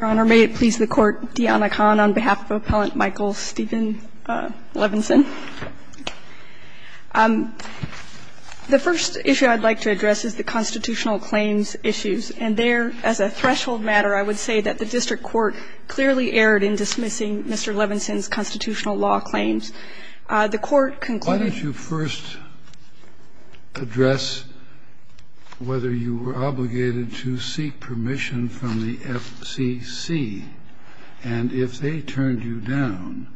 Your Honor, may it please the Court, Diana Kahn on behalf of Appellant Michael Steven Levinson. The first issue I'd like to address is the constitutional claims issues. And there, as a threshold matter, I would say that the district court clearly erred in dismissing Mr. Levinson's constitutional law claims. The Court concluded that the district court clearly erred in dismissing Mr. Levinson's constitutional law claims. If you were in the wrong place on the FCC, and if they turned you down,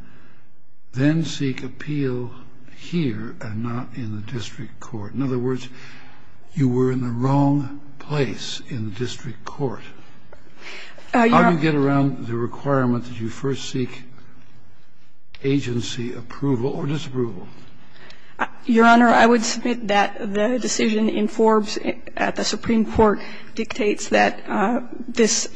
then seek appeal here and not in the district court. In other words, you were in the wrong place in the district court. How do you get around the requirement that you first seek agency approval or disapproval? Your Honor, I would submit that the decision in Forbes at the Supreme Court dictates that this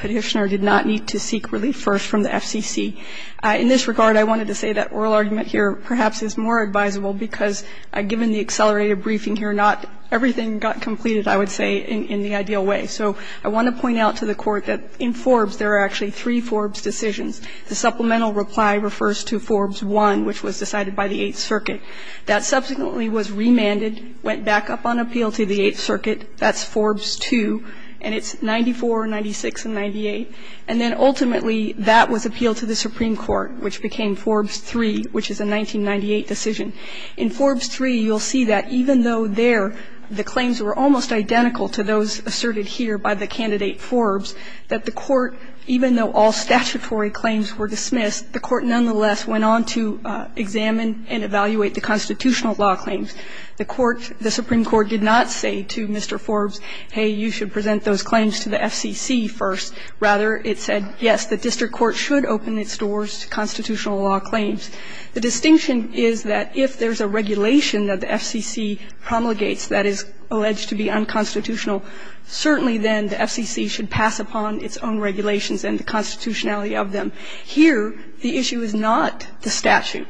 Petitioner did not need to seek relief first from the FCC. In this regard, I wanted to say that oral argument here perhaps is more advisable, because given the accelerated briefing here, not everything got completed, I would say, in the ideal way. So I want to point out to the Court that in Forbes, there are actually three Forbes decisions. The supplemental reply refers to Forbes I, which was decided by the Eighth Circuit. That subsequently was remanded, went back up on appeal to the Eighth Circuit. That's Forbes II, and it's 94, 96, and 98. And then ultimately, that was appealed to the Supreme Court, which became Forbes III, which is a 1998 decision. In Forbes III, you'll see that even though there the claims were almost identical to those asserted here by the candidate Forbes, that the Court, even though all statutory claims were dismissed, the Court nonetheless went on to examine and evaluate the constitutional law claims. The Court, the Supreme Court did not say to Mr. Forbes, hey, you should present those claims to the FCC first. Rather, it said, yes, the district court should open its doors to constitutional law claims. The distinction is that if there's a regulation that the FCC promulgates that is alleged to be unconstitutional, certainly then the FCC should pass upon its own regulations and the constitutionality of them. Here, the issue is not the statute.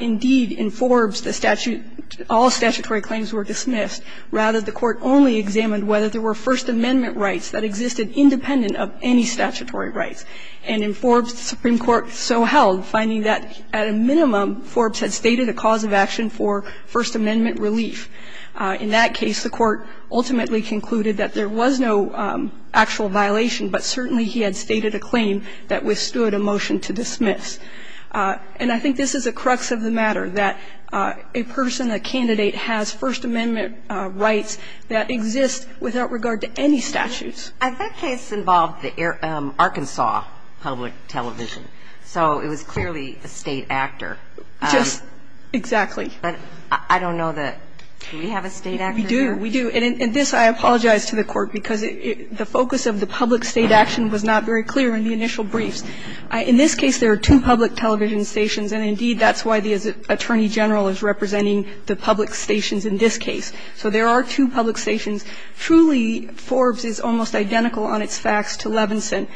Indeed, in Forbes, the statute, all statutory claims were dismissed. Rather, the Court only examined whether there were First Amendment rights that existed independent of any statutory rights. And in Forbes, the Supreme Court so held, finding that at a minimum, Forbes had stated a cause of action for First Amendment relief. In that case, the Court ultimately concluded that there was no actual violation, but certainly he had stated a claim that withstood a motion to dismiss. And I think this is the crux of the matter, that a person, a candidate has First Amendment rights that exist without regard to any statutes. And that case involved the Arkansas Public Television. So it was clearly a State actor. Just exactly. But I don't know that we have a State actor here. We do, we do. And in this, I apologize to the Court, because the focus of the public State action was not very clear in the initial briefs. In this case, there are two public television stations, and indeed, that's why the Attorney General is representing the public stations in this case. So there are two public stations. Truly, Forbes is almost identical on its facts to Levinson.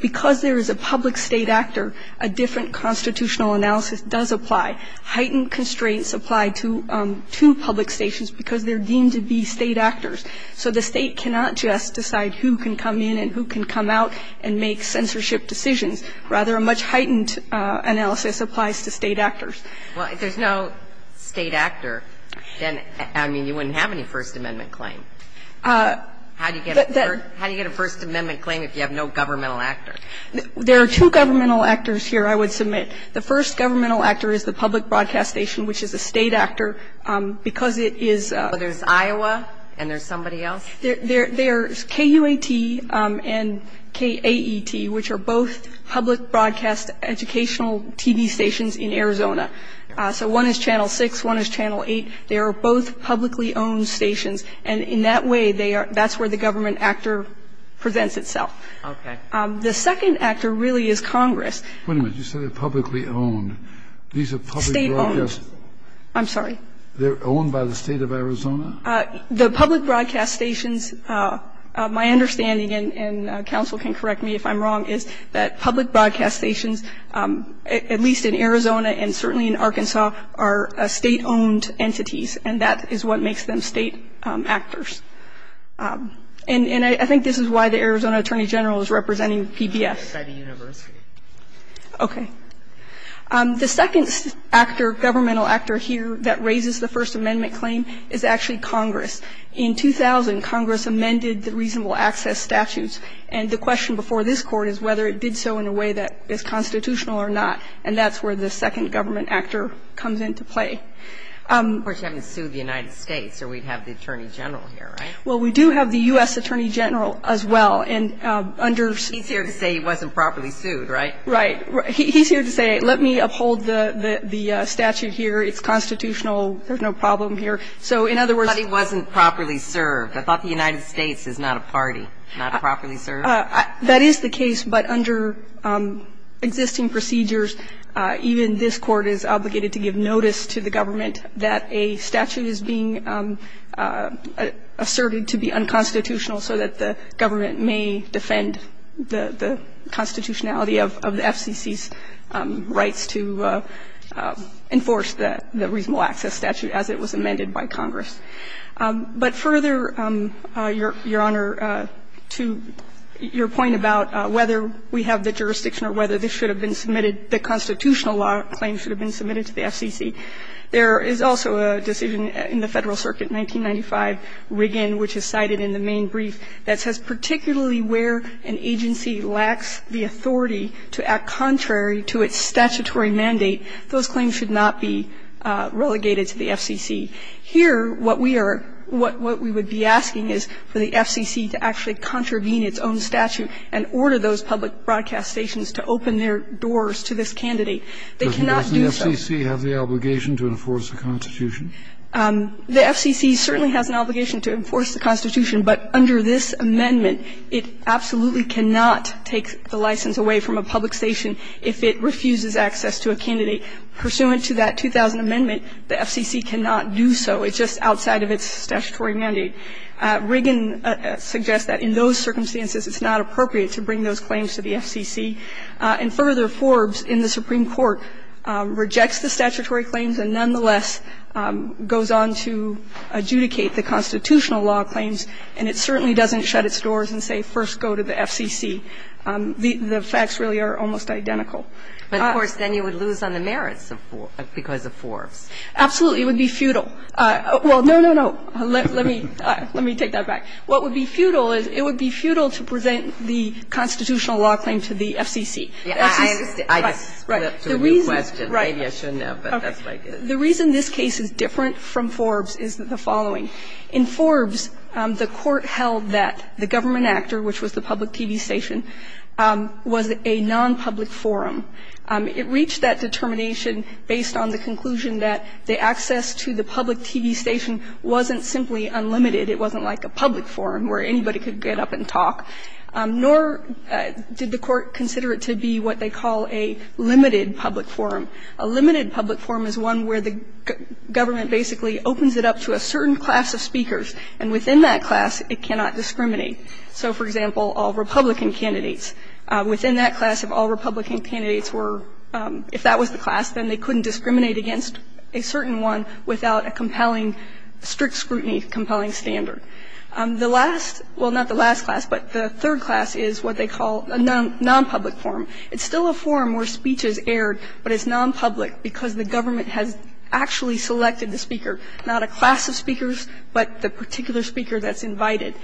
Because there is a public State actor, a different constitutional analysis does apply. Heightened constraints apply to public stations because they're deemed to be State actors. So the State cannot just decide who can come in and who can come out and make censorship decisions. Rather, a much heightened analysis applies to State actors. Well, if there's no State actor, then, I mean, you wouldn't have any First Amendment claim. How do you get a First Amendment claim if you have no governmental actor? There are two governmental actors here, I would submit. The first governmental actor is the public broadcast station, which is a State actor, because it is a So there's Iowa and there's somebody else? There's KUAT and KAET, which are both public broadcast educational TV stations in Arizona. So one is Channel 6, one is Channel 8. They are both publicly owned stations. And in that way, they are that's where the government actor presents itself. Okay. The second actor really is Congress. Wait a minute. You said they're publicly owned. These are public broadcast. State-owned. I'm sorry. They're owned by the State of Arizona? The public broadcast stations, my understanding, and counsel can correct me if I'm wrong, is that public broadcast stations, at least in Arizona and certainly in Arkansas, are State-owned entities, and that is what makes them State actors. And I think this is why the Arizona attorney general is representing PBS. Okay. The second actor, governmental actor here that raises the First Amendment claim is actually Congress. In 2000, Congress amended the reasonable access statutes, and the question before this Court is whether it did so in a way that is constitutional or not. And that's where the second government actor comes into play. Of course, you haven't sued the United States, or we'd have the attorney general here, right? Well, we do have the U.S. attorney general as well, and under He's here to say he wasn't properly sued, right? Right. He's here to say, let me uphold the statute here. It's constitutional. There's no problem here. So in other words But he wasn't properly served. I thought the United States is not a party, not properly served. That is the case, but under existing procedures, even this Court is obligated to give notice to the government that a statute is being asserted to be unconstitutional so that the government may defend the constitutionality of the FCC's rights to enforce the reasonable access statute as it was amended by Congress. But further, Your Honor, to your point about whether we have the jurisdiction or whether this should have been submitted, the constitutional law claim should have been submitted to the FCC, there is also a decision in the Federal Circuit 1995, Riggan, which is cited in the main brief that says particularly where an agency lacks the authority to act contrary to its statutory mandate, those claims should not be relegated to the FCC. Here, what we are what we would be asking is for the FCC to actually contravene its own statute and order those public broadcast stations to open their doors to this candidate. They cannot do so. Doesn't the FCC have the obligation to enforce the constitution? The FCC certainly has an obligation to enforce the constitution, but under this amendment, it absolutely cannot take the license away from a public station if it refuses access to a candidate. Pursuant to that 2000 amendment, the FCC cannot do so. It's just outside of its statutory mandate. Riggan suggests that in those circumstances, it's not appropriate to bring those claims to the FCC. And further, Forbes in the Supreme Court rejects the statutory claims and nonetheless goes on to adjudicate the constitutional law claims, and it certainly doesn't shut its doors and say first go to the FCC. The facts really are almost identical. But, of course, then you would lose on the merits of Forbes, because of Forbes. Absolutely. It would be futile. Well, no, no, no. Let me take that back. What would be futile is it would be futile to present the constitutional law claim to the FCC. I understand. I just put that to a new question. Maybe I shouldn't have, but that's what I did. The reason this case is different from Forbes is the following. In Forbes, the Court held that the government actor, which was the public TV station, was a nonpublic forum. It reached that determination based on the conclusion that the access to the public TV station wasn't simply unlimited. It wasn't like a public forum where anybody could get up and talk. Nor did the Court consider it to be what they call a limited public forum. A limited public forum is one where the government basically opens it up to a certain class of speakers, and within that class, it cannot discriminate. So, for example, all Republican candidates. Within that class, if all Republican candidates were – if that was the class, then they couldn't discriminate against a certain one without a compelling – strict scrutiny, compelling standard. The last – well, not the last class, but the third class is what they call a nonpublic forum. It's still a forum where speech is aired, but it's nonpublic because the government has actually selected the speaker, not a class of speakers, but the particular speaker that's invited.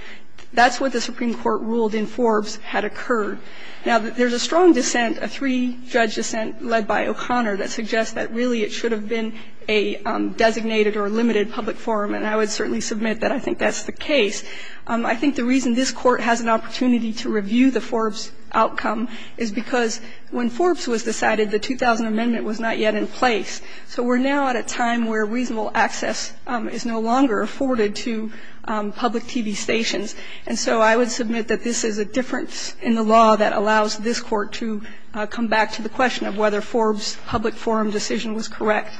That's what the Supreme Court ruled in Forbes had occurred. Now, there's a strong dissent, a three-judge dissent led by O'Connor that suggests that really it should have been a designated or limited public forum, and I would certainly submit that I think that's the case. I think the reason this Court has an opportunity to review the Forbes outcome is because when Forbes was decided, the 2000 Amendment was not yet in place. So we're now at a time where reasonable access is no longer afforded to public TV stations, and so I would submit that this is a difference in the law that allows this Court to come back to the question of whether Forbes' public forum decision was correct.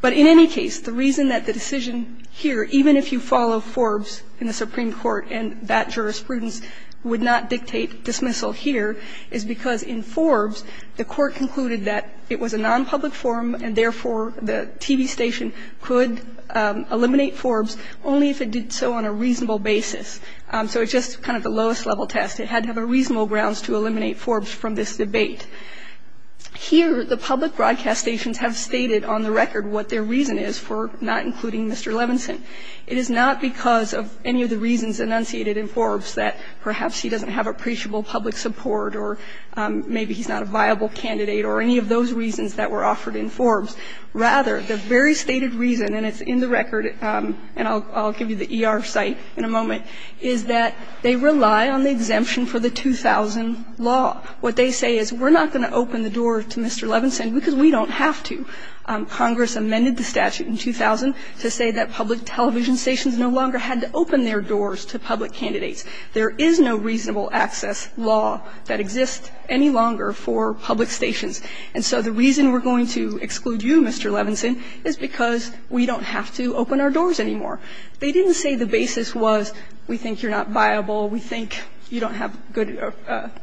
But in any case, the reason that the decision here, even if you follow Forbes in the Supreme Court, and that jurisprudence would not dictate dismissal here, is because in Forbes, the Court concluded that it was a non-public forum and, therefore, the TV station could eliminate Forbes only if it did so on a reasonable basis. So it's just kind of the lowest level test. It had to have a reasonable grounds to eliminate Forbes from this debate. Here, the public broadcast stations have stated on the record what their reason is for not including Mr. Levinson. It is not because of any of the reasons enunciated in Forbes that perhaps he doesn't have appreciable public support or maybe he's not a viable candidate or any of those reasons that were offered in Forbes. Rather, the very stated reason, and it's in the record, and I'll give you the ER site in a moment, is that they rely on the exemption for the 2000 law. What they say is we're not going to open the door to Mr. Levinson because we don't have to. Congress amended the statute in 2000 to say that public television stations no longer had to open their doors to public candidates. There is no reasonable access law that exists any longer for public stations. And so the reason we're going to exclude you, Mr. Levinson, is because we don't have to open our doors anymore. They didn't say the basis was we think you're not viable, we think you don't have good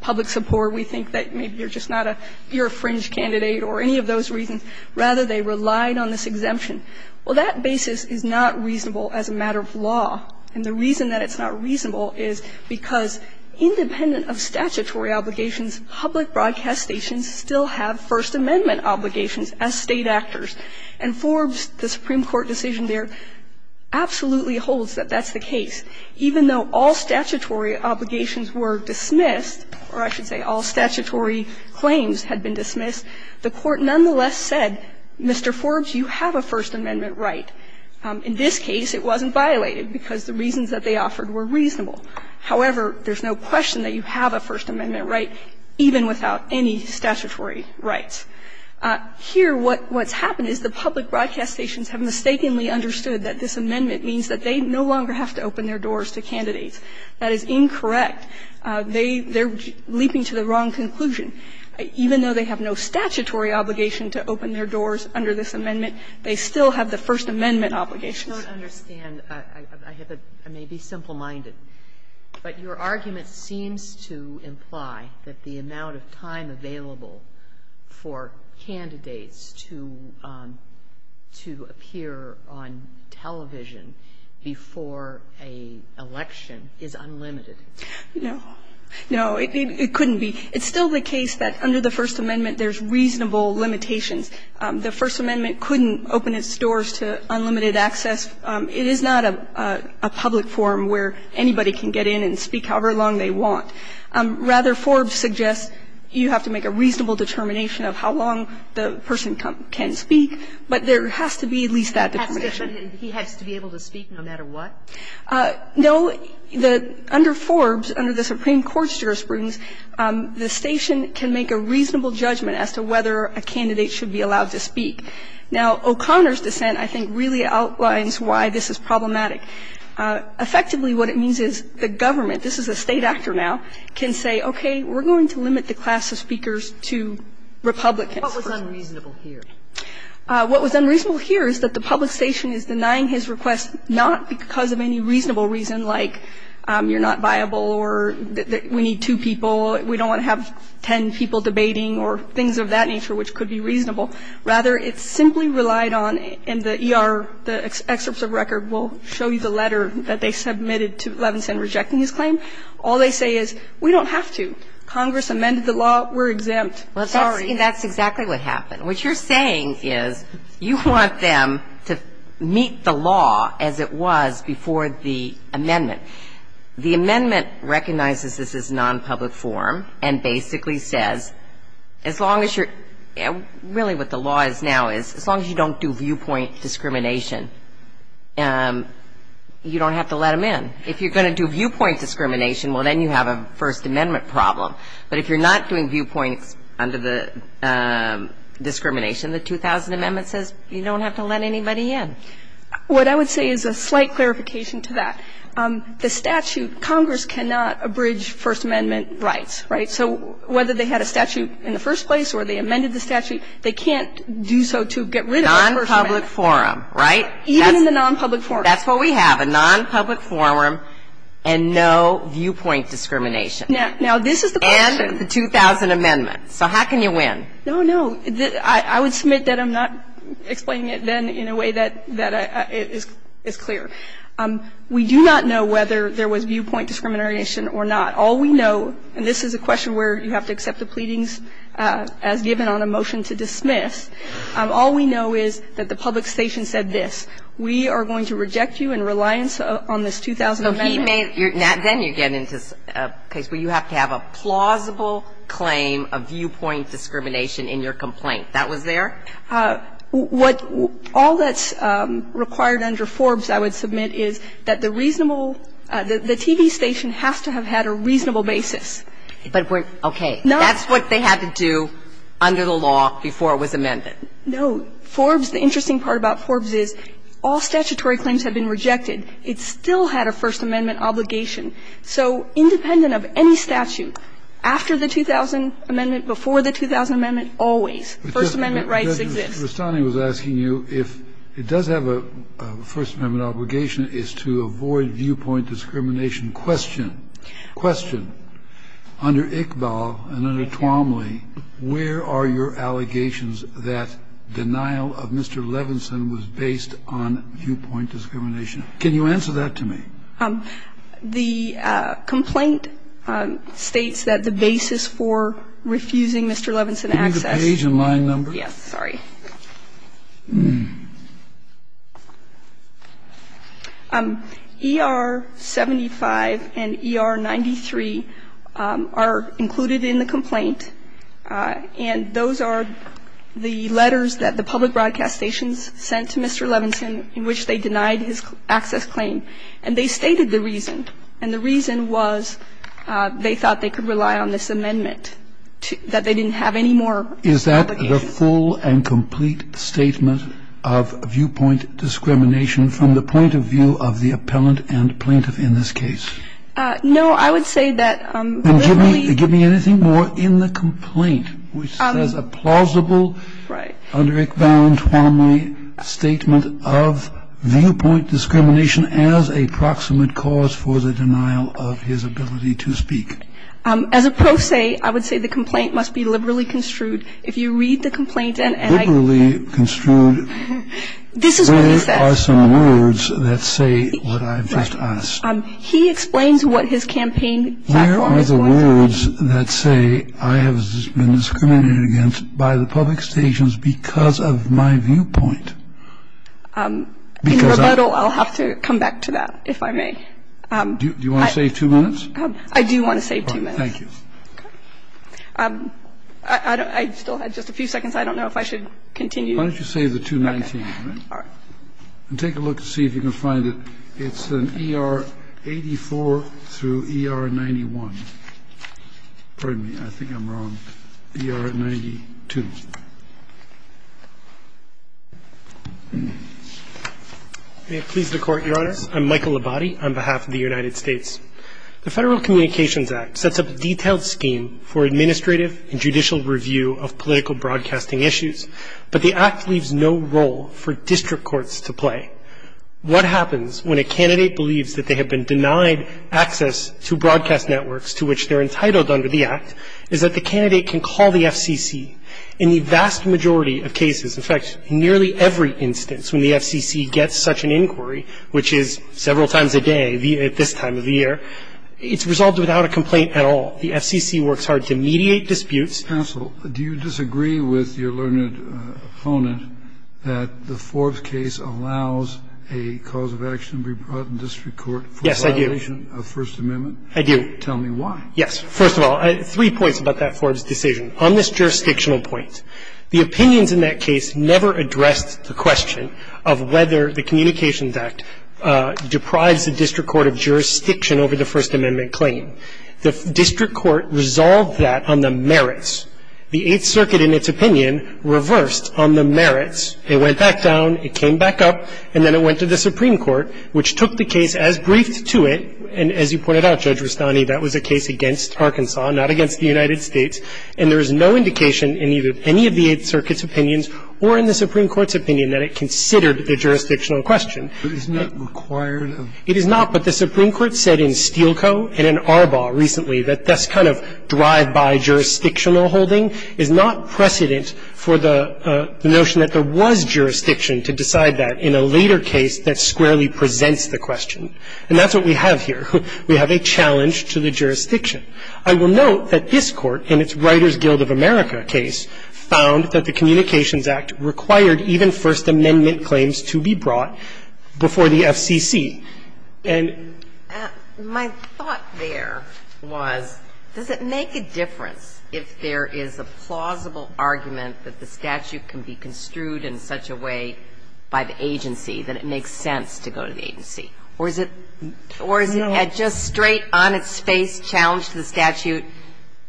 public support, we think that maybe you're just not a you're a fringe candidate or any of those reasons. Rather, they relied on this exemption. Well, that basis is not reasonable as a matter of law. And the reason that it's not reasonable is because independent of statutory obligations, public broadcast stations still have First Amendment obligations as State actors. And Forbes, the Supreme Court decision there, absolutely holds that that's the case. Even though all statutory obligations were dismissed, or I should say all statutory claims had been dismissed, the Court nonetheless said, Mr. Forbes, you have a First Amendment right. In this case, it wasn't violated because the reasons that they offered were reasonable. However, there's no question that you have a First Amendment right, even without any statutory rights. Here, what's happened is the public broadcast stations have mistakenly understood that this amendment means that they no longer have to open their doors to candidates. That is incorrect. They're leaping to the wrong conclusion. Even though they have no statutory obligation to open their doors under this amendment, they still have the First Amendment obligations. Kagan, I don't understand. I have a – I may be simple-minded, but your argument seems to imply that the amount of time available for candidates to appear on television before an election is unlimited. No. No, it couldn't be. It's still the case that under the First Amendment, there's reasonable limitations. The First Amendment couldn't open its doors to unlimited access. It is not a public forum where anybody can get in and speak however long they want. Rather, Forbes suggests you have to make a reasonable determination of how long the person can speak, but there has to be at least that determination. He has to be able to speak no matter what? No. Under Forbes, under the Supreme Court's jurisprudence, the station can make a reasonable judgment as to whether a candidate should be allowed to speak. Now, O'Connor's dissent, I think, really outlines why this is problematic. Effectively, what it means is the government, this is a State actor now, can say, okay, we're going to limit the class of speakers to Republicans. What was unreasonable here? What was unreasonable here is that the public station is denying his request not because of any reasonable reason like you're not viable or we need two people, we don't want to have ten people debating or things of that nature which could be reasonable. Rather, it's simply relied on, and the ER, the excerpts of record will show you the letter that they submitted to Levinson rejecting his claim. All they say is, we don't have to. Congress amended the law. We're exempt. And that's exactly what happened. What you're saying is you want them to meet the law as it was before the amendment. The amendment recognizes this as non-public forum and basically says, as long as you're really, what the law is now is, as long as you don't do viewpoint discrimination, you don't have to let them in. If you're going to do viewpoint discrimination, well, then you have a First Amendment problem. But if you're not doing viewpoints under the discrimination, the 2000 Amendment says you don't have to let anybody in. What I would say is a slight clarification to that. The statute, Congress cannot abridge First Amendment rights, right? So whether they had a statute in the first place or they amended the statute, they can't do so to get rid of the First Amendment. Non-public forum, right? Even in the non-public forum. That's what we have, a non-public forum and no viewpoint discrimination. Now, this is the question. And the 2000 Amendment. So how can you win? No, no. I would submit that I'm not explaining it then in a way that is clear. We do not know whether there was viewpoint discrimination or not. All we know, and this is a question where you have to accept the pleadings as given on a motion to dismiss, all we know is that the public station said this. We are going to reject you in reliance on this 2000 Amendment. So he made, then you get into a case where you have to have a plausible claim of viewpoint discrimination in your complaint. That was there? What all that's required under Forbes, I would submit, is that the reasonable the TV station has to have had a reasonable basis. But we're, okay. That's what they had to do under the law before it was amended. No. Forbes, the interesting part about Forbes is all statutory claims have been rejected. It still had a First Amendment obligation. So independent of any statute, after the 2000 Amendment, before the 2000 Amendment, always, First Amendment rights exist. Kennedy, Mr. Vestani was asking you if it does have a First Amendment obligation is to avoid viewpoint discrimination. Question, question, under Iqbal and under Twomley, where are your allegations that denial of Mr. Levinson was based on viewpoint discrimination? Can you answer that to me? The complaint states that the basis for refusing Mr. Levinson access. Can you read the page and line number? Yes. Sorry. ER-75 and ER-93 are included in the complaint, and those are the letters that the public broadcast stations sent to Mr. Levinson in which they denied his access claim. And they stated the reason, and the reason was they thought they could rely on this amendment, that they didn't have any more obligation. Is that the full and complete statement of viewpoint discrimination from the point of view of the appellant and plaintiff in this case? No. I would say that literally And give me anything more in the complaint, which says a plausible, under Iqbal and Twomley, statement of viewpoint discrimination as a proximate cause for the denial of his ability to speak. As a pro se, I would say the complaint must be liberally construed. If you read the complaint and liberally construed, there are some words that say what I've just asked. He explains what his campaign platform is going to do. I would say the complaint must be liberally construed, and there are some words that say I have been discriminated against by the public stations because of my viewpoint. In rebuttal, I'll have to come back to that, if I may. Do you want to save two minutes? I do want to save two minutes. Thank you. I still had just a few seconds. I don't know if I should continue. Why don't you save the 219? All right. And take a look to see if you can find it. It's an ER84 through ER91. Pardon me. I think I'm wrong. ER92. May it please the Court, Your Honor. I'm Michael Labate on behalf of the United States. The Federal Communications Act sets up a detailed scheme for administrative and judicial review of political broadcasting issues. But the Act leaves no role for district courts to play. What happens when a candidate believes that they have been denied access to broadcast networks to which they're entitled under the Act is that the candidate can call the FCC. In the vast majority of cases, in fact, nearly every instance when the FCC gets such an inquiry, which is several times a day at this time of the year, it's resolved without a complaint at all. The FCC works hard to mediate disputes. Counsel, do you disagree with your learned opponent that the Forbes case allows a cause of action to be brought in district court for violation of First Amendment? Yes, I do. I do. Tell me why. Yes. First of all, three points about that Forbes decision. On this jurisdictional point, the opinions in that case never addressed the question of whether the Communications Act deprives the district court of jurisdiction over the First Amendment claim. The district court resolved that on the merits. The Eighth Circuit, in its opinion, reversed on the merits. It went back down. It came back up. And then it went to the Supreme Court, which took the case as briefed to it. And as you pointed out, Judge Rustani, that was a case against Arkansas, not against the United States. And there is no indication in either any of the Eighth Circuit's opinions or in the Supreme Court's opinion that it considered the jurisdictional question. But isn't that required of ---- It is not, but the Supreme Court said in Steele Co. and in Arbaugh recently that this kind of drive-by jurisdictional holding is not precedent for the notion that there was jurisdiction to decide that in a later case that squarely presents the question. And that's what we have here. We have a challenge to the jurisdiction. I will note that this Court, in its Writers Guild of America case, found that the Communications Act required even First Amendment claims to be brought before the JCCC. And ---- My thought there was, does it make a difference if there is a plausible argument that the statute can be construed in such a way by the agency that it makes sense to go to the agency? Or is it just straight on its face challenge to the statute,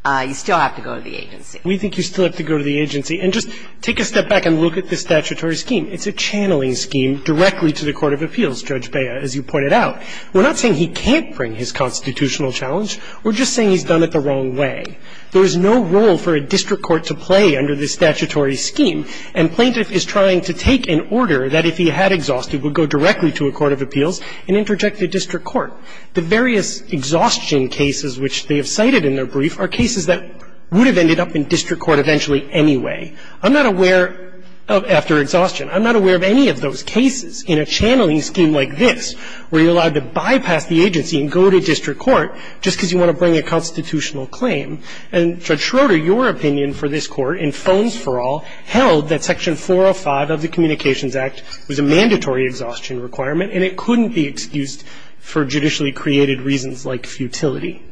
you still have to go to the agency? We think you still have to go to the agency. And just take a step back and look at the statutory scheme. It's a channeling scheme directly to the court of appeals, Judge Bea, as you pointed out. We're not saying he can't bring his constitutional challenge. We're just saying he's done it the wrong way. There is no role for a district court to play under this statutory scheme. And plaintiff is trying to take an order that if he had exhausted would go directly to a court of appeals and interject to district court. The various exhaustion cases which they have cited in their brief are cases that would have ended up in district court eventually anyway. I'm not aware of, after exhaustion, I'm not aware of any of those cases in a channeling scheme like this where you're allowed to bypass the agency and go to district court just because you want to bring a constitutional claim. And Judge Schroeder, your opinion for this Court in Phones for All held that Section 405 of the Communications Act was a mandatory exhaustion requirement and it couldn't be excused for judicially created reasons like futility.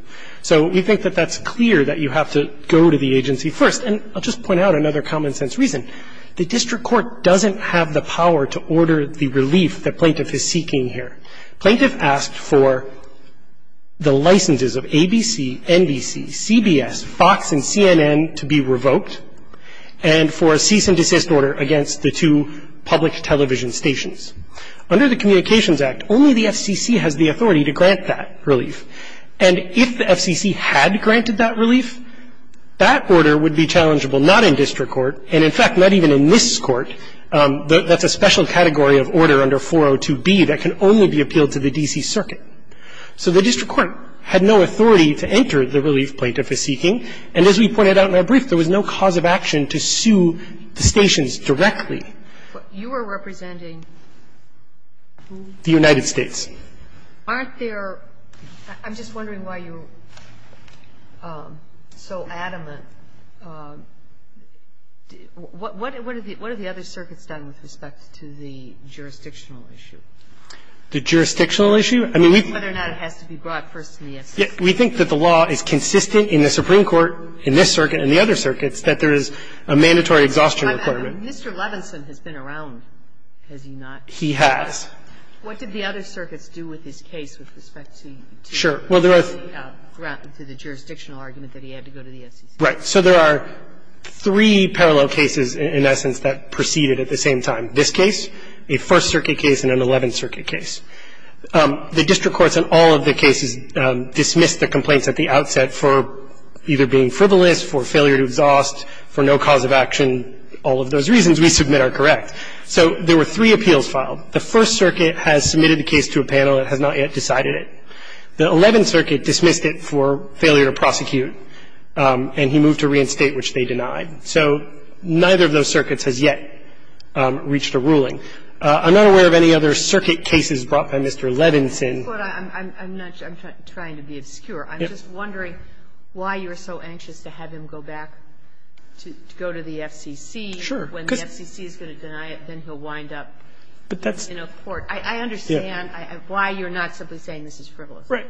So we think that that's clear that you have to go to the agency first. And I'll just point out another common sense reason. The district court doesn't have the power to order the relief that plaintiff is seeking here. Plaintiff asked for the licenses of ABC, NBC, CBS, Fox, and CNN to be revoked, and for a cease and desist order against the two public television stations. Under the Communications Act, only the FCC has the authority to grant that relief. And if the FCC had granted that relief, that order would be challengeable not in district court and, in fact, not even in this Court. That's a special category of order under 402B that can only be appealed to the D.C. Circuit. So the district court had no authority to enter the relief plaintiff is seeking. And as we pointed out in our brief, there was no cause of action to sue the stations directly. You are representing who? The United States. Aren't there – I'm just wondering why you're so adamant. What have the other circuits done with respect to the jurisdictional issue? The jurisdictional issue? I mean, we think that the law is consistent in the Supreme Court, in this circuit and the other circuits, that there is a mandatory exhaustion requirement. Mr. Levinson has been around. Has he not? He has. What did the other circuits do with his case with respect to the jurisdictional argument that he had to go to the FCC? Right. So there are three parallel cases, in essence, that proceeded at the same time. This case, a First Circuit case, and an Eleventh Circuit case. The district courts in all of the cases dismissed the complaints at the outset for either being frivolous, for failure to exhaust, for no cause of action. All of those reasons we submit are correct. So there were three appeals filed. The First Circuit has submitted the case to a panel that has not yet decided it. The Eleventh Circuit dismissed it for failure to prosecute, and he moved to reinstate, which they denied. So neither of those circuits has yet reached a ruling. I'm not aware of any other circuit cases brought by Mr. Levinson. I'm not – I'm trying to be obscure. I'm just wondering why you're so anxious to have him go back to go to the FCC. Sure. When the FCC is going to deny it, then he'll wind up. But that's – In a court. I understand why you're not simply saying this is frivolous. Right.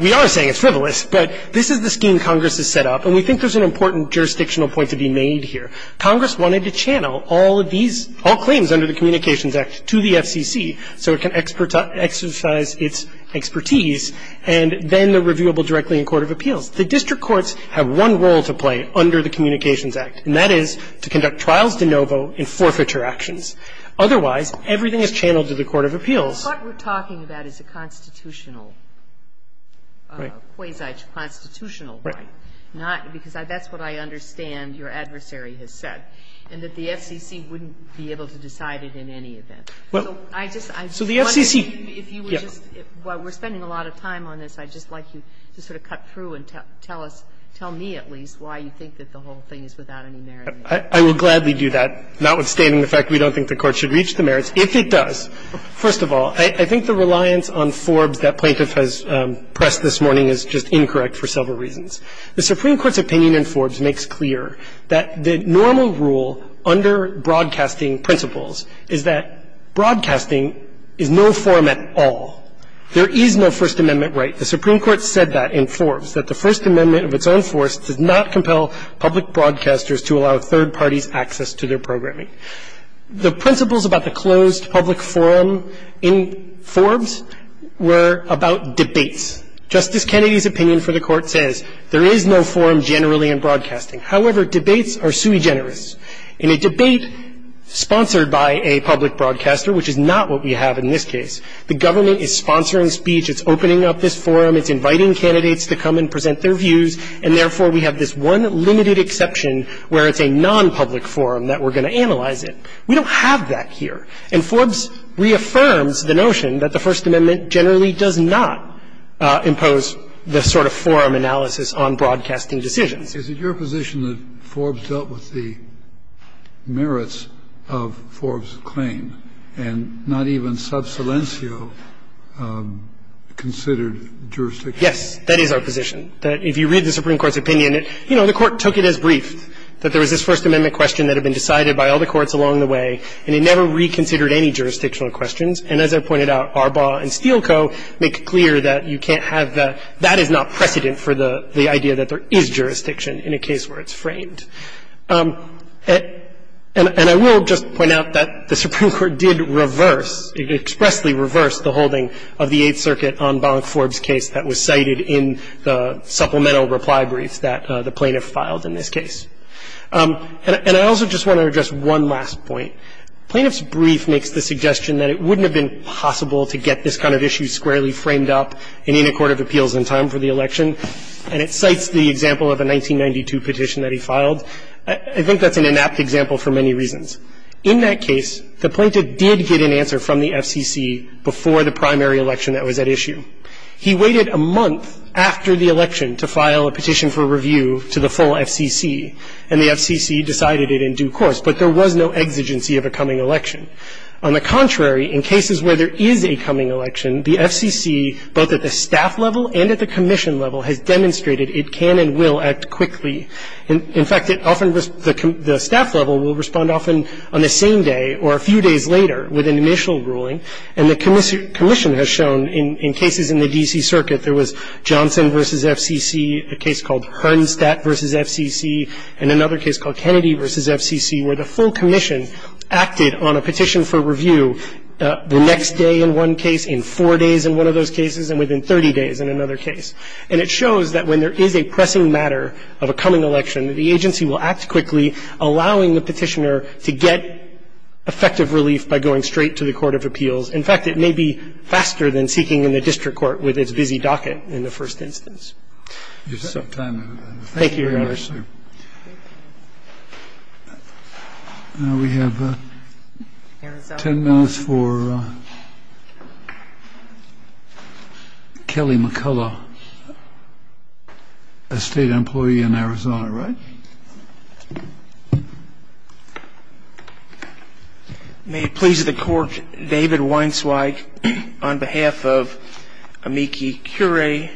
We are saying it's frivolous, but this is the scheme Congress has set up, and we think there's an important jurisdictional point to be made here. Congress wanted to channel all of these – all claims under the Communications Act to the FCC so it can exercise its expertise, and then the reviewable directly in court of appeals. The district courts have one role to play under the Communications Act, and that is to conduct trials de novo in forfeiture actions. Otherwise, everything is channeled to the court of appeals. What we're talking about is a constitutional – Right. Quasi-constitutional right. Right. Not – because that's what I understand your adversary has said, and that the FCC wouldn't be able to decide it in any event. Well, I just – So the FCC – If you were just – while we're spending a lot of time on this, I'd just like you to sort of cut through and tell us – tell me at least why you think that the whole thing is without any merit. I will gladly do that. Notwithstanding the fact we don't think the Court should reach the merits. If it does, first of all, I think the reliance on Forbes that plaintiff has pressed this morning is just incorrect for several reasons. The Supreme Court's opinion in Forbes makes clear that the normal rule under broadcasting principles is that broadcasting is no form at all. There is no First Amendment right. The Supreme Court said that in Forbes, that the First Amendment of its own force does not compel public broadcasters to allow third parties access to their programming. The principles about the closed public forum in Forbes were about debates. Justice Kennedy's opinion for the Court says there is no forum generally in broadcasting. However, debates are sui generis. In a debate sponsored by a public broadcaster, which is not what we have in this case, the government is sponsoring speech, it's opening up this forum, it's inviting candidates to come and present their views, and therefore we have this one limited exception where it's a nonpublic forum that we're going to analyze it. We don't have that here. And Forbes reaffirms the notion that the First Amendment generally does not impose the sort of forum analysis on broadcasting decisions. Kennedy, is it your position that Forbes dealt with the merits of Forbes' claim that there is jurisdiction in a case where it's framed, and not even sub silencio considered jurisdiction? Yes, that is our position, that if you read the Supreme Court's opinion, you know, the Court took it as brief, that there was this First Amendment question that had been decided by all the courts along the way, and it never reconsidered any jurisdictional questions. And as I pointed out, Arbaugh and Steele Co. make clear that you can't have that. That is not precedent for the idea that there is jurisdiction in a case where it's And the Court did reverse, expressly reverse the holding of the Eighth Circuit on Bollock-Forbes' case that was cited in the supplemental reply brief that the plaintiff filed in this case. And I also just want to address one last point. Plaintiff's brief makes the suggestion that it wouldn't have been possible to get this kind of issue squarely framed up in any court of appeals in time for the election, and it cites the example of a 1992 petition that he filed. I think that's an inapt example for many reasons. In that case, the plaintiff did get an answer from the FCC before the primary election that was at issue. He waited a month after the election to file a petition for review to the full FCC, and the FCC decided it in due course. But there was no exigency of a coming election. On the contrary, in cases where there is a coming election, the FCC, both at the staff level and at the commission level, has demonstrated it can and will act quickly. In fact, often the staff level will respond often on the same day or a few days later with an initial ruling, and the commission has shown in cases in the D.C. circuit there was Johnson v. FCC, a case called Hernstadt v. FCC, and another case called Kennedy v. FCC, where the full commission acted on a petition for review the next day in one case, in four days in one of those cases, and within 30 days in another case. And it shows that when there is a pressing matter of a coming election, that the agency will act quickly, allowing the petitioner to get effective relief by going straight to the court of appeals. In fact, it may be faster than seeking in the district court with its busy docket in the first instance. Thank you, Your Honor. We have ten minutes for Kelly McCullough, a state employee in Arizona, right? May it please the court, David Weinsweig, on behalf of Amiki Curie,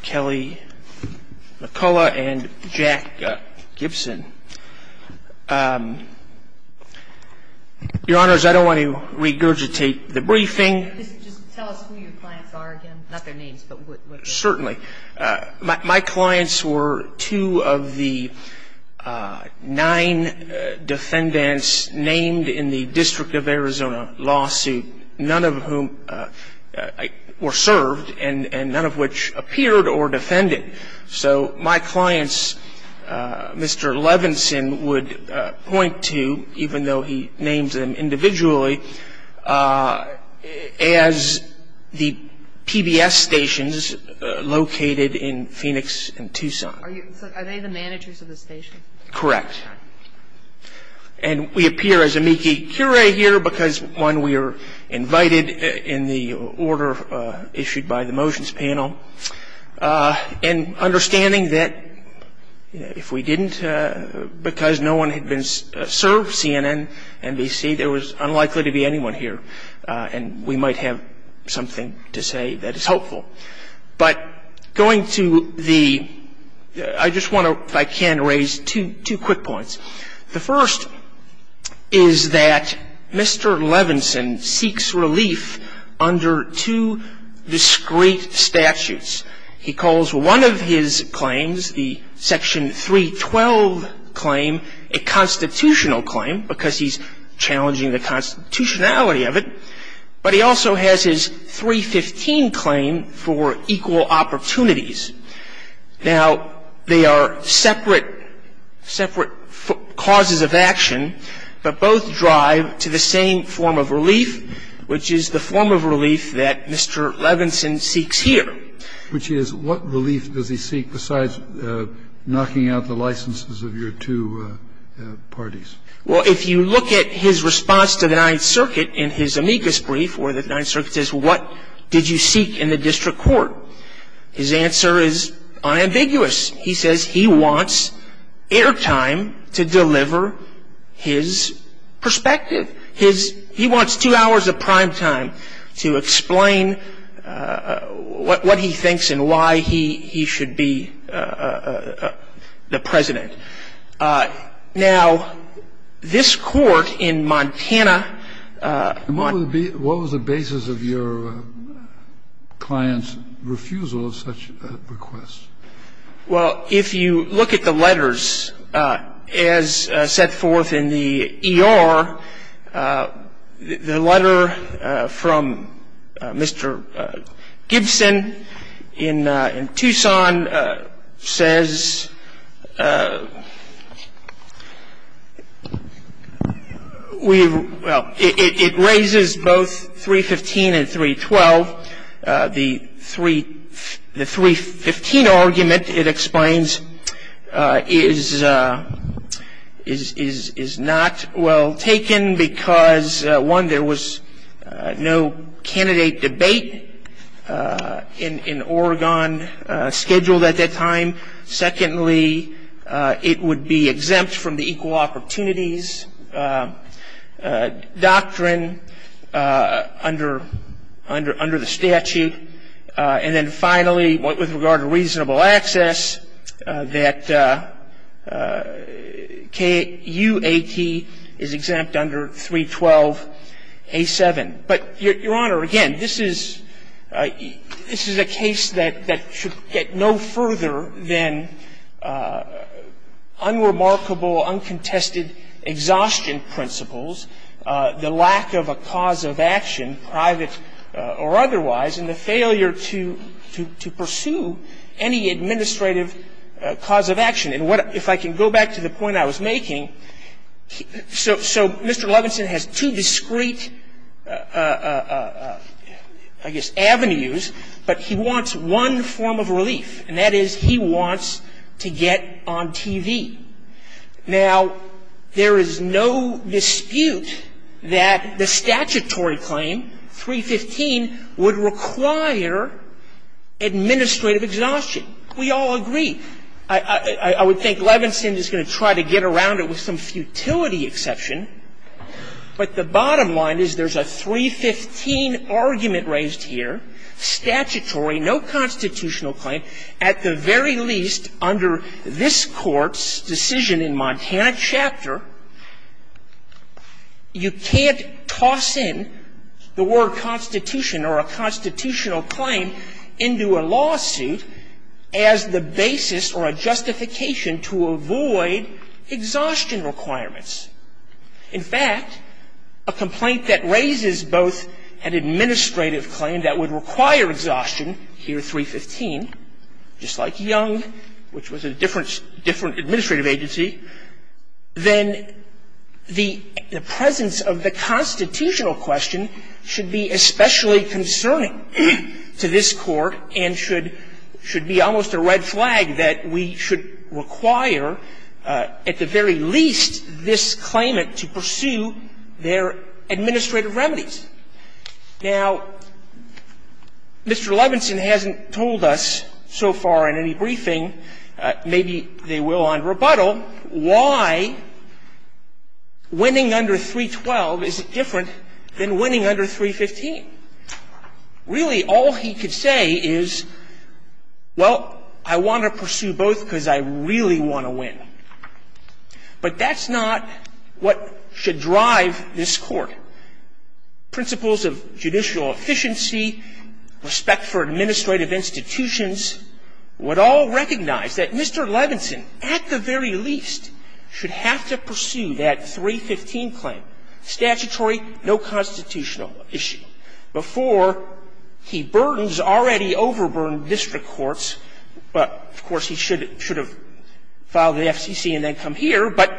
Kelly McCullough, and Jack Gibson. Your Honors, I don't want to regurgitate the briefing. Just tell us who your clients are again, not their names. Certainly. My clients were two of the nine defendants named in the District of Arizona lawsuit, none of whom were served, and none of which appeared or defended. So my clients, Mr. Levinson would point to, even though he named them individually, as the PBS stations located in Phoenix and Tucson. Are they the managers of the stations? Correct. And we appear as Amiki Curie here because, one, we were invited in the order issued by the motions panel. And understanding that if we didn't, because no one had been served, CNN, NBC, there was unlikely to be anyone here. And we might have something to say that is helpful. But going to the ‑‑ I just want to, if I can, raise two quick points. The first is that Mr. Levinson seeks relief under two discrete statutes. He calls one of his claims, the Section 312 claim, a constitutional claim because he's challenging the constitutionality of it. But he also has his 315 claim for equal opportunities. Now, they are separate, separate causes of action, but both drive to the same form of relief, which is the form of relief that Mr. Levinson seeks here. Which is, what relief does he seek besides knocking out the licenses of your two parties? Well, if you look at his response to the Ninth Circuit in his amicus brief where the Ninth Circuit says, well, what did you seek in the district court? His answer is unambiguous. He says he wants airtime to deliver his perspective. He wants two hours of prime time to explain what he thinks and why he should be the president. Now, this court in Montana ‑‑ What was the basis of your client's refusal of such a request? Well, if you look at the letters as set forth in the E.R., the letter from Mr. Gibson in Tucson says we ‑‑ well, it raises both 315 and 312. The 315 argument, it explains, is not well taken because, one, there was no candidate debate in Oregon scheduled at that time. And, secondly, it would be exempt from the equal opportunities doctrine under the statute. And then, finally, with regard to reasonable access, that KUAT is exempt under 312A7. But, Your Honor, again, this is a case that should get no further than unremarkable, uncontested exhaustion principles, the lack of a cause of action, private or otherwise, and the failure to pursue any administrative cause of action. And if I can go back to the point I was making, so Mr. Levinson has two discrete, I guess, avenues, but he wants one form of relief, and that is he wants to get on TV. Now, there is no dispute that the statutory claim, 315, would require administrative exhaustion. We all agree. I would think Levinson is going to try to get around it with some futility exception. But the bottom line is there's a 315 argument raised here, statutory, no constitutional claim, at the very least under this Court's decision in Montana Chapter, you can't In fact, a complaint that raises both an administrative claim that would require exhaustion here, 315, just like Young, which was a different administrative agency, then the presence of the constitutional question should be especially concerning to this Court and should be almost a red flag that we should require, at the very least, this claimant to pursue their administrative remedies. Now, Mr. Levinson hasn't told us so far in any briefing, maybe they will on rebuttal, why winning under 312 isn't different than winning under 315. Really, all he could say is, well, I want to pursue both because I really want to win. But that's not what should drive this Court. Principles of judicial efficiency, respect for administrative institutions, would all recognize that Mr. Levinson, at the very least, should have to pursue that 315 claim, statutory, no constitutional issue, before he burdens already overburdened district courts. Of course, he should have filed in the FCC and then come here, but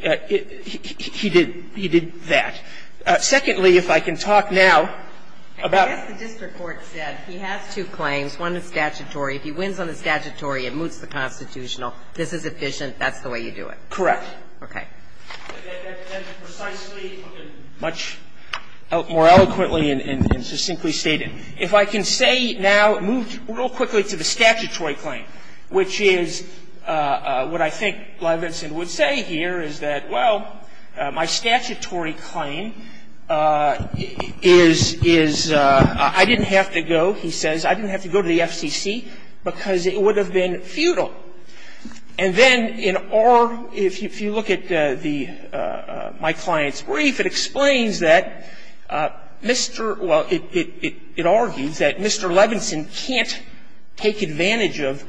he did that. Secondly, if I can talk now about the district court said he has two claims, one is statutory, if he wins on the statutory, it moots the constitutional, this is efficient, that's the way you do it. Correct. Okay. And precisely, much more eloquently and succinctly stated, if I can say now, move real quickly to the statutory claim, which is what I think Levinson would say here is that, well, my statutory claim is, is I didn't have to go, he says, I didn't have to go to the FCC because it would have been futile. And then in our – if you look at the – my client's brief, it explains that Mr. – well, it argues that Mr. Levinson can't take advantage of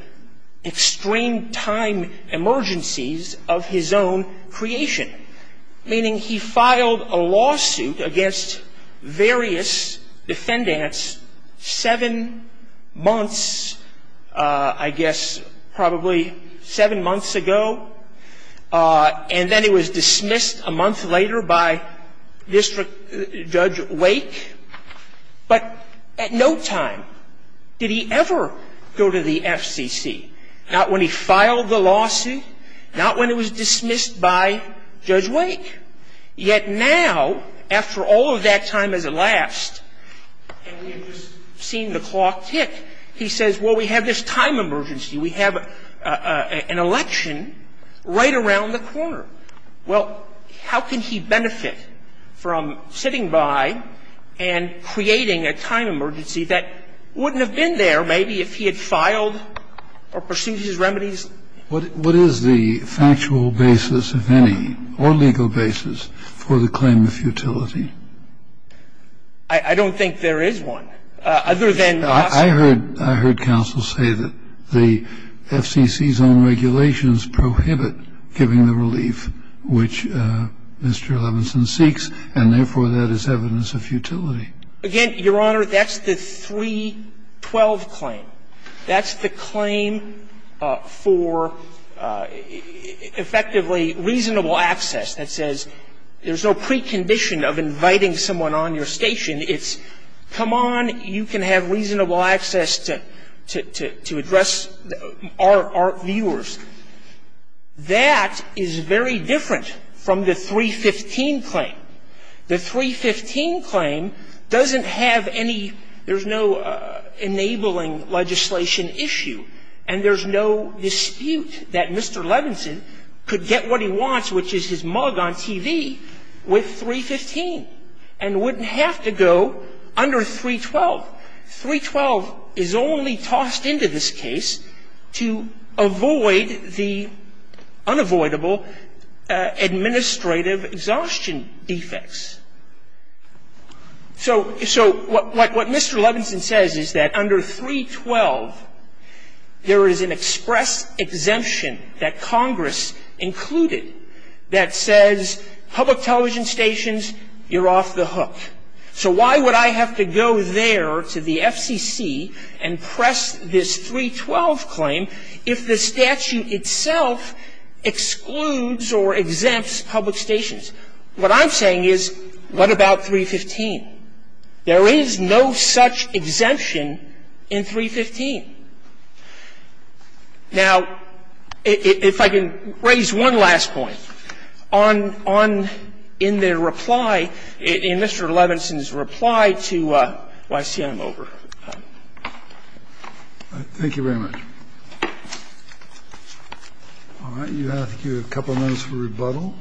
extreme time emergencies of his own creation, meaning he filed a lawsuit against various defendants and then he was dismissed a month later by District Judge Wake, but at no time did he ever go to the FCC, not when he filed the lawsuit, not when it was dismissed by Judge Wake, yet now, after all of that time has elapsed, and we are talking about a time emergency, he says, well, we have this time emergency, we have an election right around the corner. Well, how can he benefit from sitting by and creating a time emergency that wouldn't have been there maybe if he had filed or pursued his remedies? What is the factual basis, if any, or legal basis for the claim of futility? I don't think there is one, other than lawsuits. I heard counsel say that the FCC's own regulations prohibit giving the relief which Mr. Levinson seeks, and therefore, that is evidence of futility. Again, Your Honor, that's the 312 claim. That's the claim for effectively reasonable access that says there's no precondition of inviting someone on your station. It's come on, you can have reasonable access to address our viewers. That is very different from the 315 claim. The 315 claim doesn't have any – there's no enabling legislation issue, and there's no dispute that Mr. Levinson could get what he wants, which is his mug on TV, with 315 and wouldn't have to go under 312. 312 is only tossed into this case to avoid the unavoidable administrative exhaustion defects. So what Mr. Levinson says is that under 312, there is an express exemption that Congress included that says public television stations, you're off the hook. So why would I have to go there to the FCC and press this 312 claim if the statute itself excludes or exempts public stations? What I'm saying is, what about 315? There is no such exemption in 315. Now, if I can raise one last point. On – on – in their reply, in Mr. Levinson's reply to – well, I see I'm over. Thank you very much. All right. You have a couple minutes for rebuttal.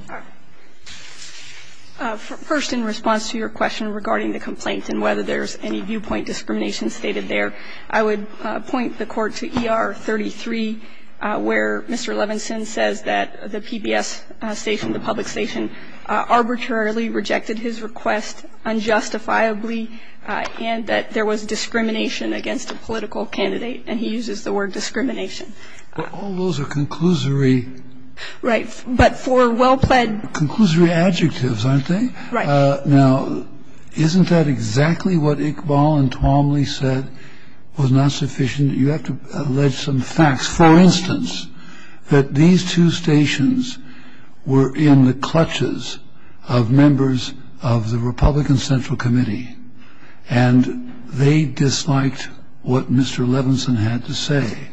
First, in response to your question regarding the complaint and whether there's any viewpoint discrimination stated there, I would point the Court to ER 33, where Mr. Levinson says that the PBS station, the public station, arbitrarily rejected his request unjustifiably and that there was discrimination against a political candidate, and he uses the word discrimination. But all those are conclusory – Right. But for well-plaid – Conclusory adjectives, aren't they? Right. Now, isn't that exactly what Iqbal and Twomley said was not sufficient? You have to allege some facts. Just for instance, that these two stations were in the clutches of members of the Republican Central Committee, and they disliked what Mr. Levinson had to say.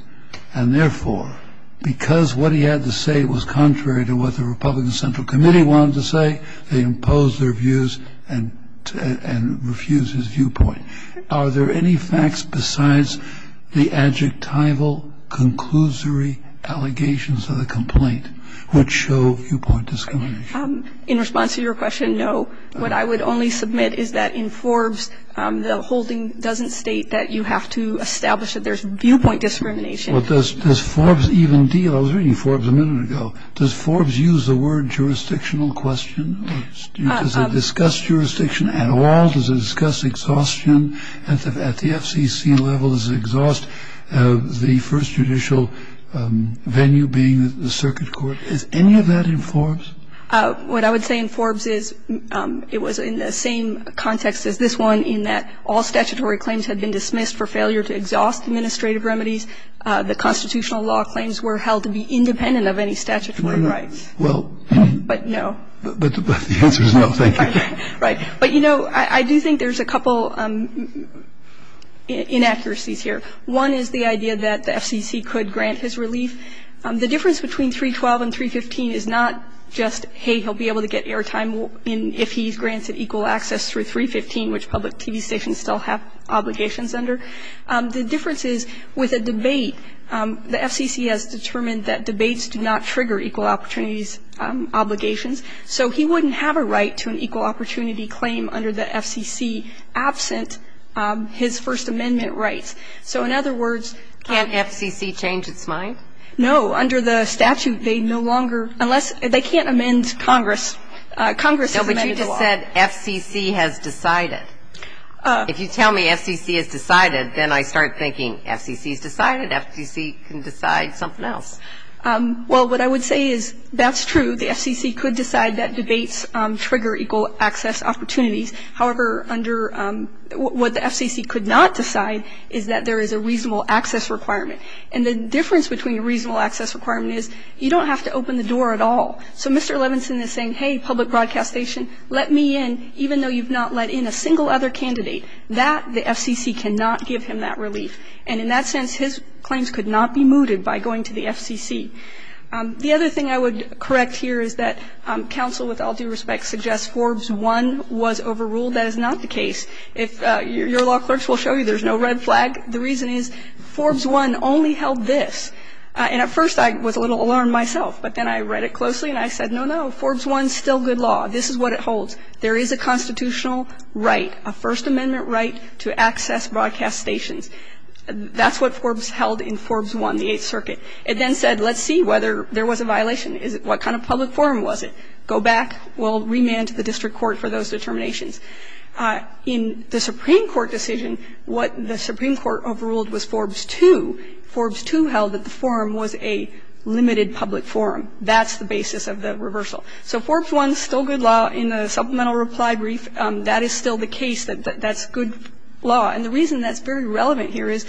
And therefore, because what he had to say was contrary to what the Republican Central Committee wanted to say, they imposed their views and – and refused his viewpoint. Are there any facts besides the adjectival, conclusory allegations of the complaint which show viewpoint discrimination? In response to your question, no. What I would only submit is that in Forbes, the holding doesn't state that you have to establish that there's viewpoint discrimination. Well, does – does Forbes even deal – I was reading Forbes a minute ago. Does Forbes use the word jurisdictional question, or does it discuss jurisdiction at all? Does it discuss exhaustion at the – at the FCC level? Does it exhaust the first judicial venue being the circuit court? Is any of that in Forbes? What I would say in Forbes is it was in the same context as this one in that all statutory claims had been dismissed for failure to exhaust administrative remedies. The constitutional law claims were held to be independent of any statutory rights. Well – But no. But the answer is no, thank you. Right. But, you know, I do think there's a couple inaccuracies here. One is the idea that the FCC could grant his relief. The difference between 312 and 315 is not just, hey, he'll be able to get airtime if he's granted equal access through 315, which public TV stations still have obligations under. The difference is, with a debate, the FCC has determined that debates do not trigger equal opportunities obligations, so he wouldn't have a right to an equal opportunity claim under the FCC absent his First Amendment rights. So, in other words – Can't FCC change its mind? No. Under the statute, they no longer – unless – they can't amend Congress. Congress has amended the law. No, but you just said FCC has decided. If you tell me FCC has decided, then I start thinking FCC's decided, FCC can decide something else. Well, what I would say is that's true. The FCC could decide that debates trigger equal access opportunities. However, under – what the FCC could not decide is that there is a reasonable access requirement. And the difference between a reasonable access requirement is you don't have to open the door at all. So, Mr. Levinson is saying, hey, public broadcast station, let me in, even though you've not let in a single other candidate. That, the FCC cannot give him that relief. And in that sense, his claims could not be mooted by going to the FCC. The other thing I would correct here is that counsel, with all due respect, suggests Forbes I was overruled. That is not the case. If – your law clerks will show you there's no red flag. The reason is Forbes I only held this. And at first, I was a little alarmed myself. But then I read it closely, and I said, no, no, Forbes I's still good law. This is what it holds. There is a constitutional right, a First Amendment right to access broadcast stations. That's what Forbes held in Forbes I, the Eighth Circuit. It then said, let's see whether there was a violation. Is it – what kind of public forum was it? Go back, we'll remand to the district court for those determinations. In the Supreme Court decision, what the Supreme Court overruled was Forbes II. Forbes II held that the forum was a limited public forum. That's the basis of the reversal. So Forbes I's still good law. In the supplemental reply brief, that is still the case that that's good law. And the reason that's very relevant here is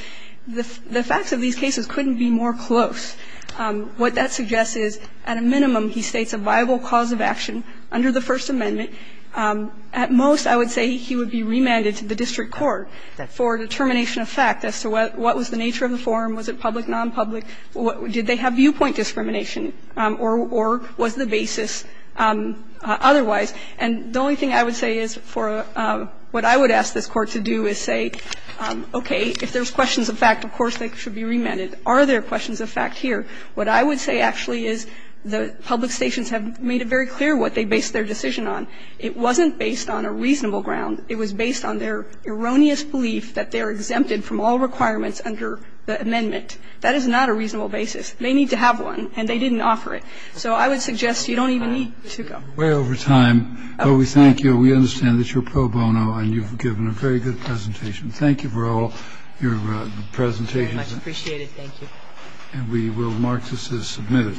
the facts of these cases couldn't be more close. What that suggests is, at a minimum, he states a viable cause of action under the First Amendment. At most, I would say he would be remanded to the district court for a determination of fact as to what was the nature of the forum, was it public, non-public, did they have viewpoint discrimination, or was the basis otherwise. And the only thing I would say is for what I would ask this Court to do is say, okay, if there's questions of fact, of course, they should be remanded. Are there questions of fact here? What I would say actually is the public stations have made it very clear what they based their decision on. It wasn't based on a reasonable ground. It was based on their erroneous belief that they are exempted from all requirements under the amendment. That is not a reasonable basis. They need to have one, and they didn't offer it. So I would suggest you don't even need to go. Kennedy, way over time, but we thank you. We understand that you're pro bono and you've given a very good presentation. Thank you for all your presentations. Very much appreciated. Thank you. And we will mark this as submitted.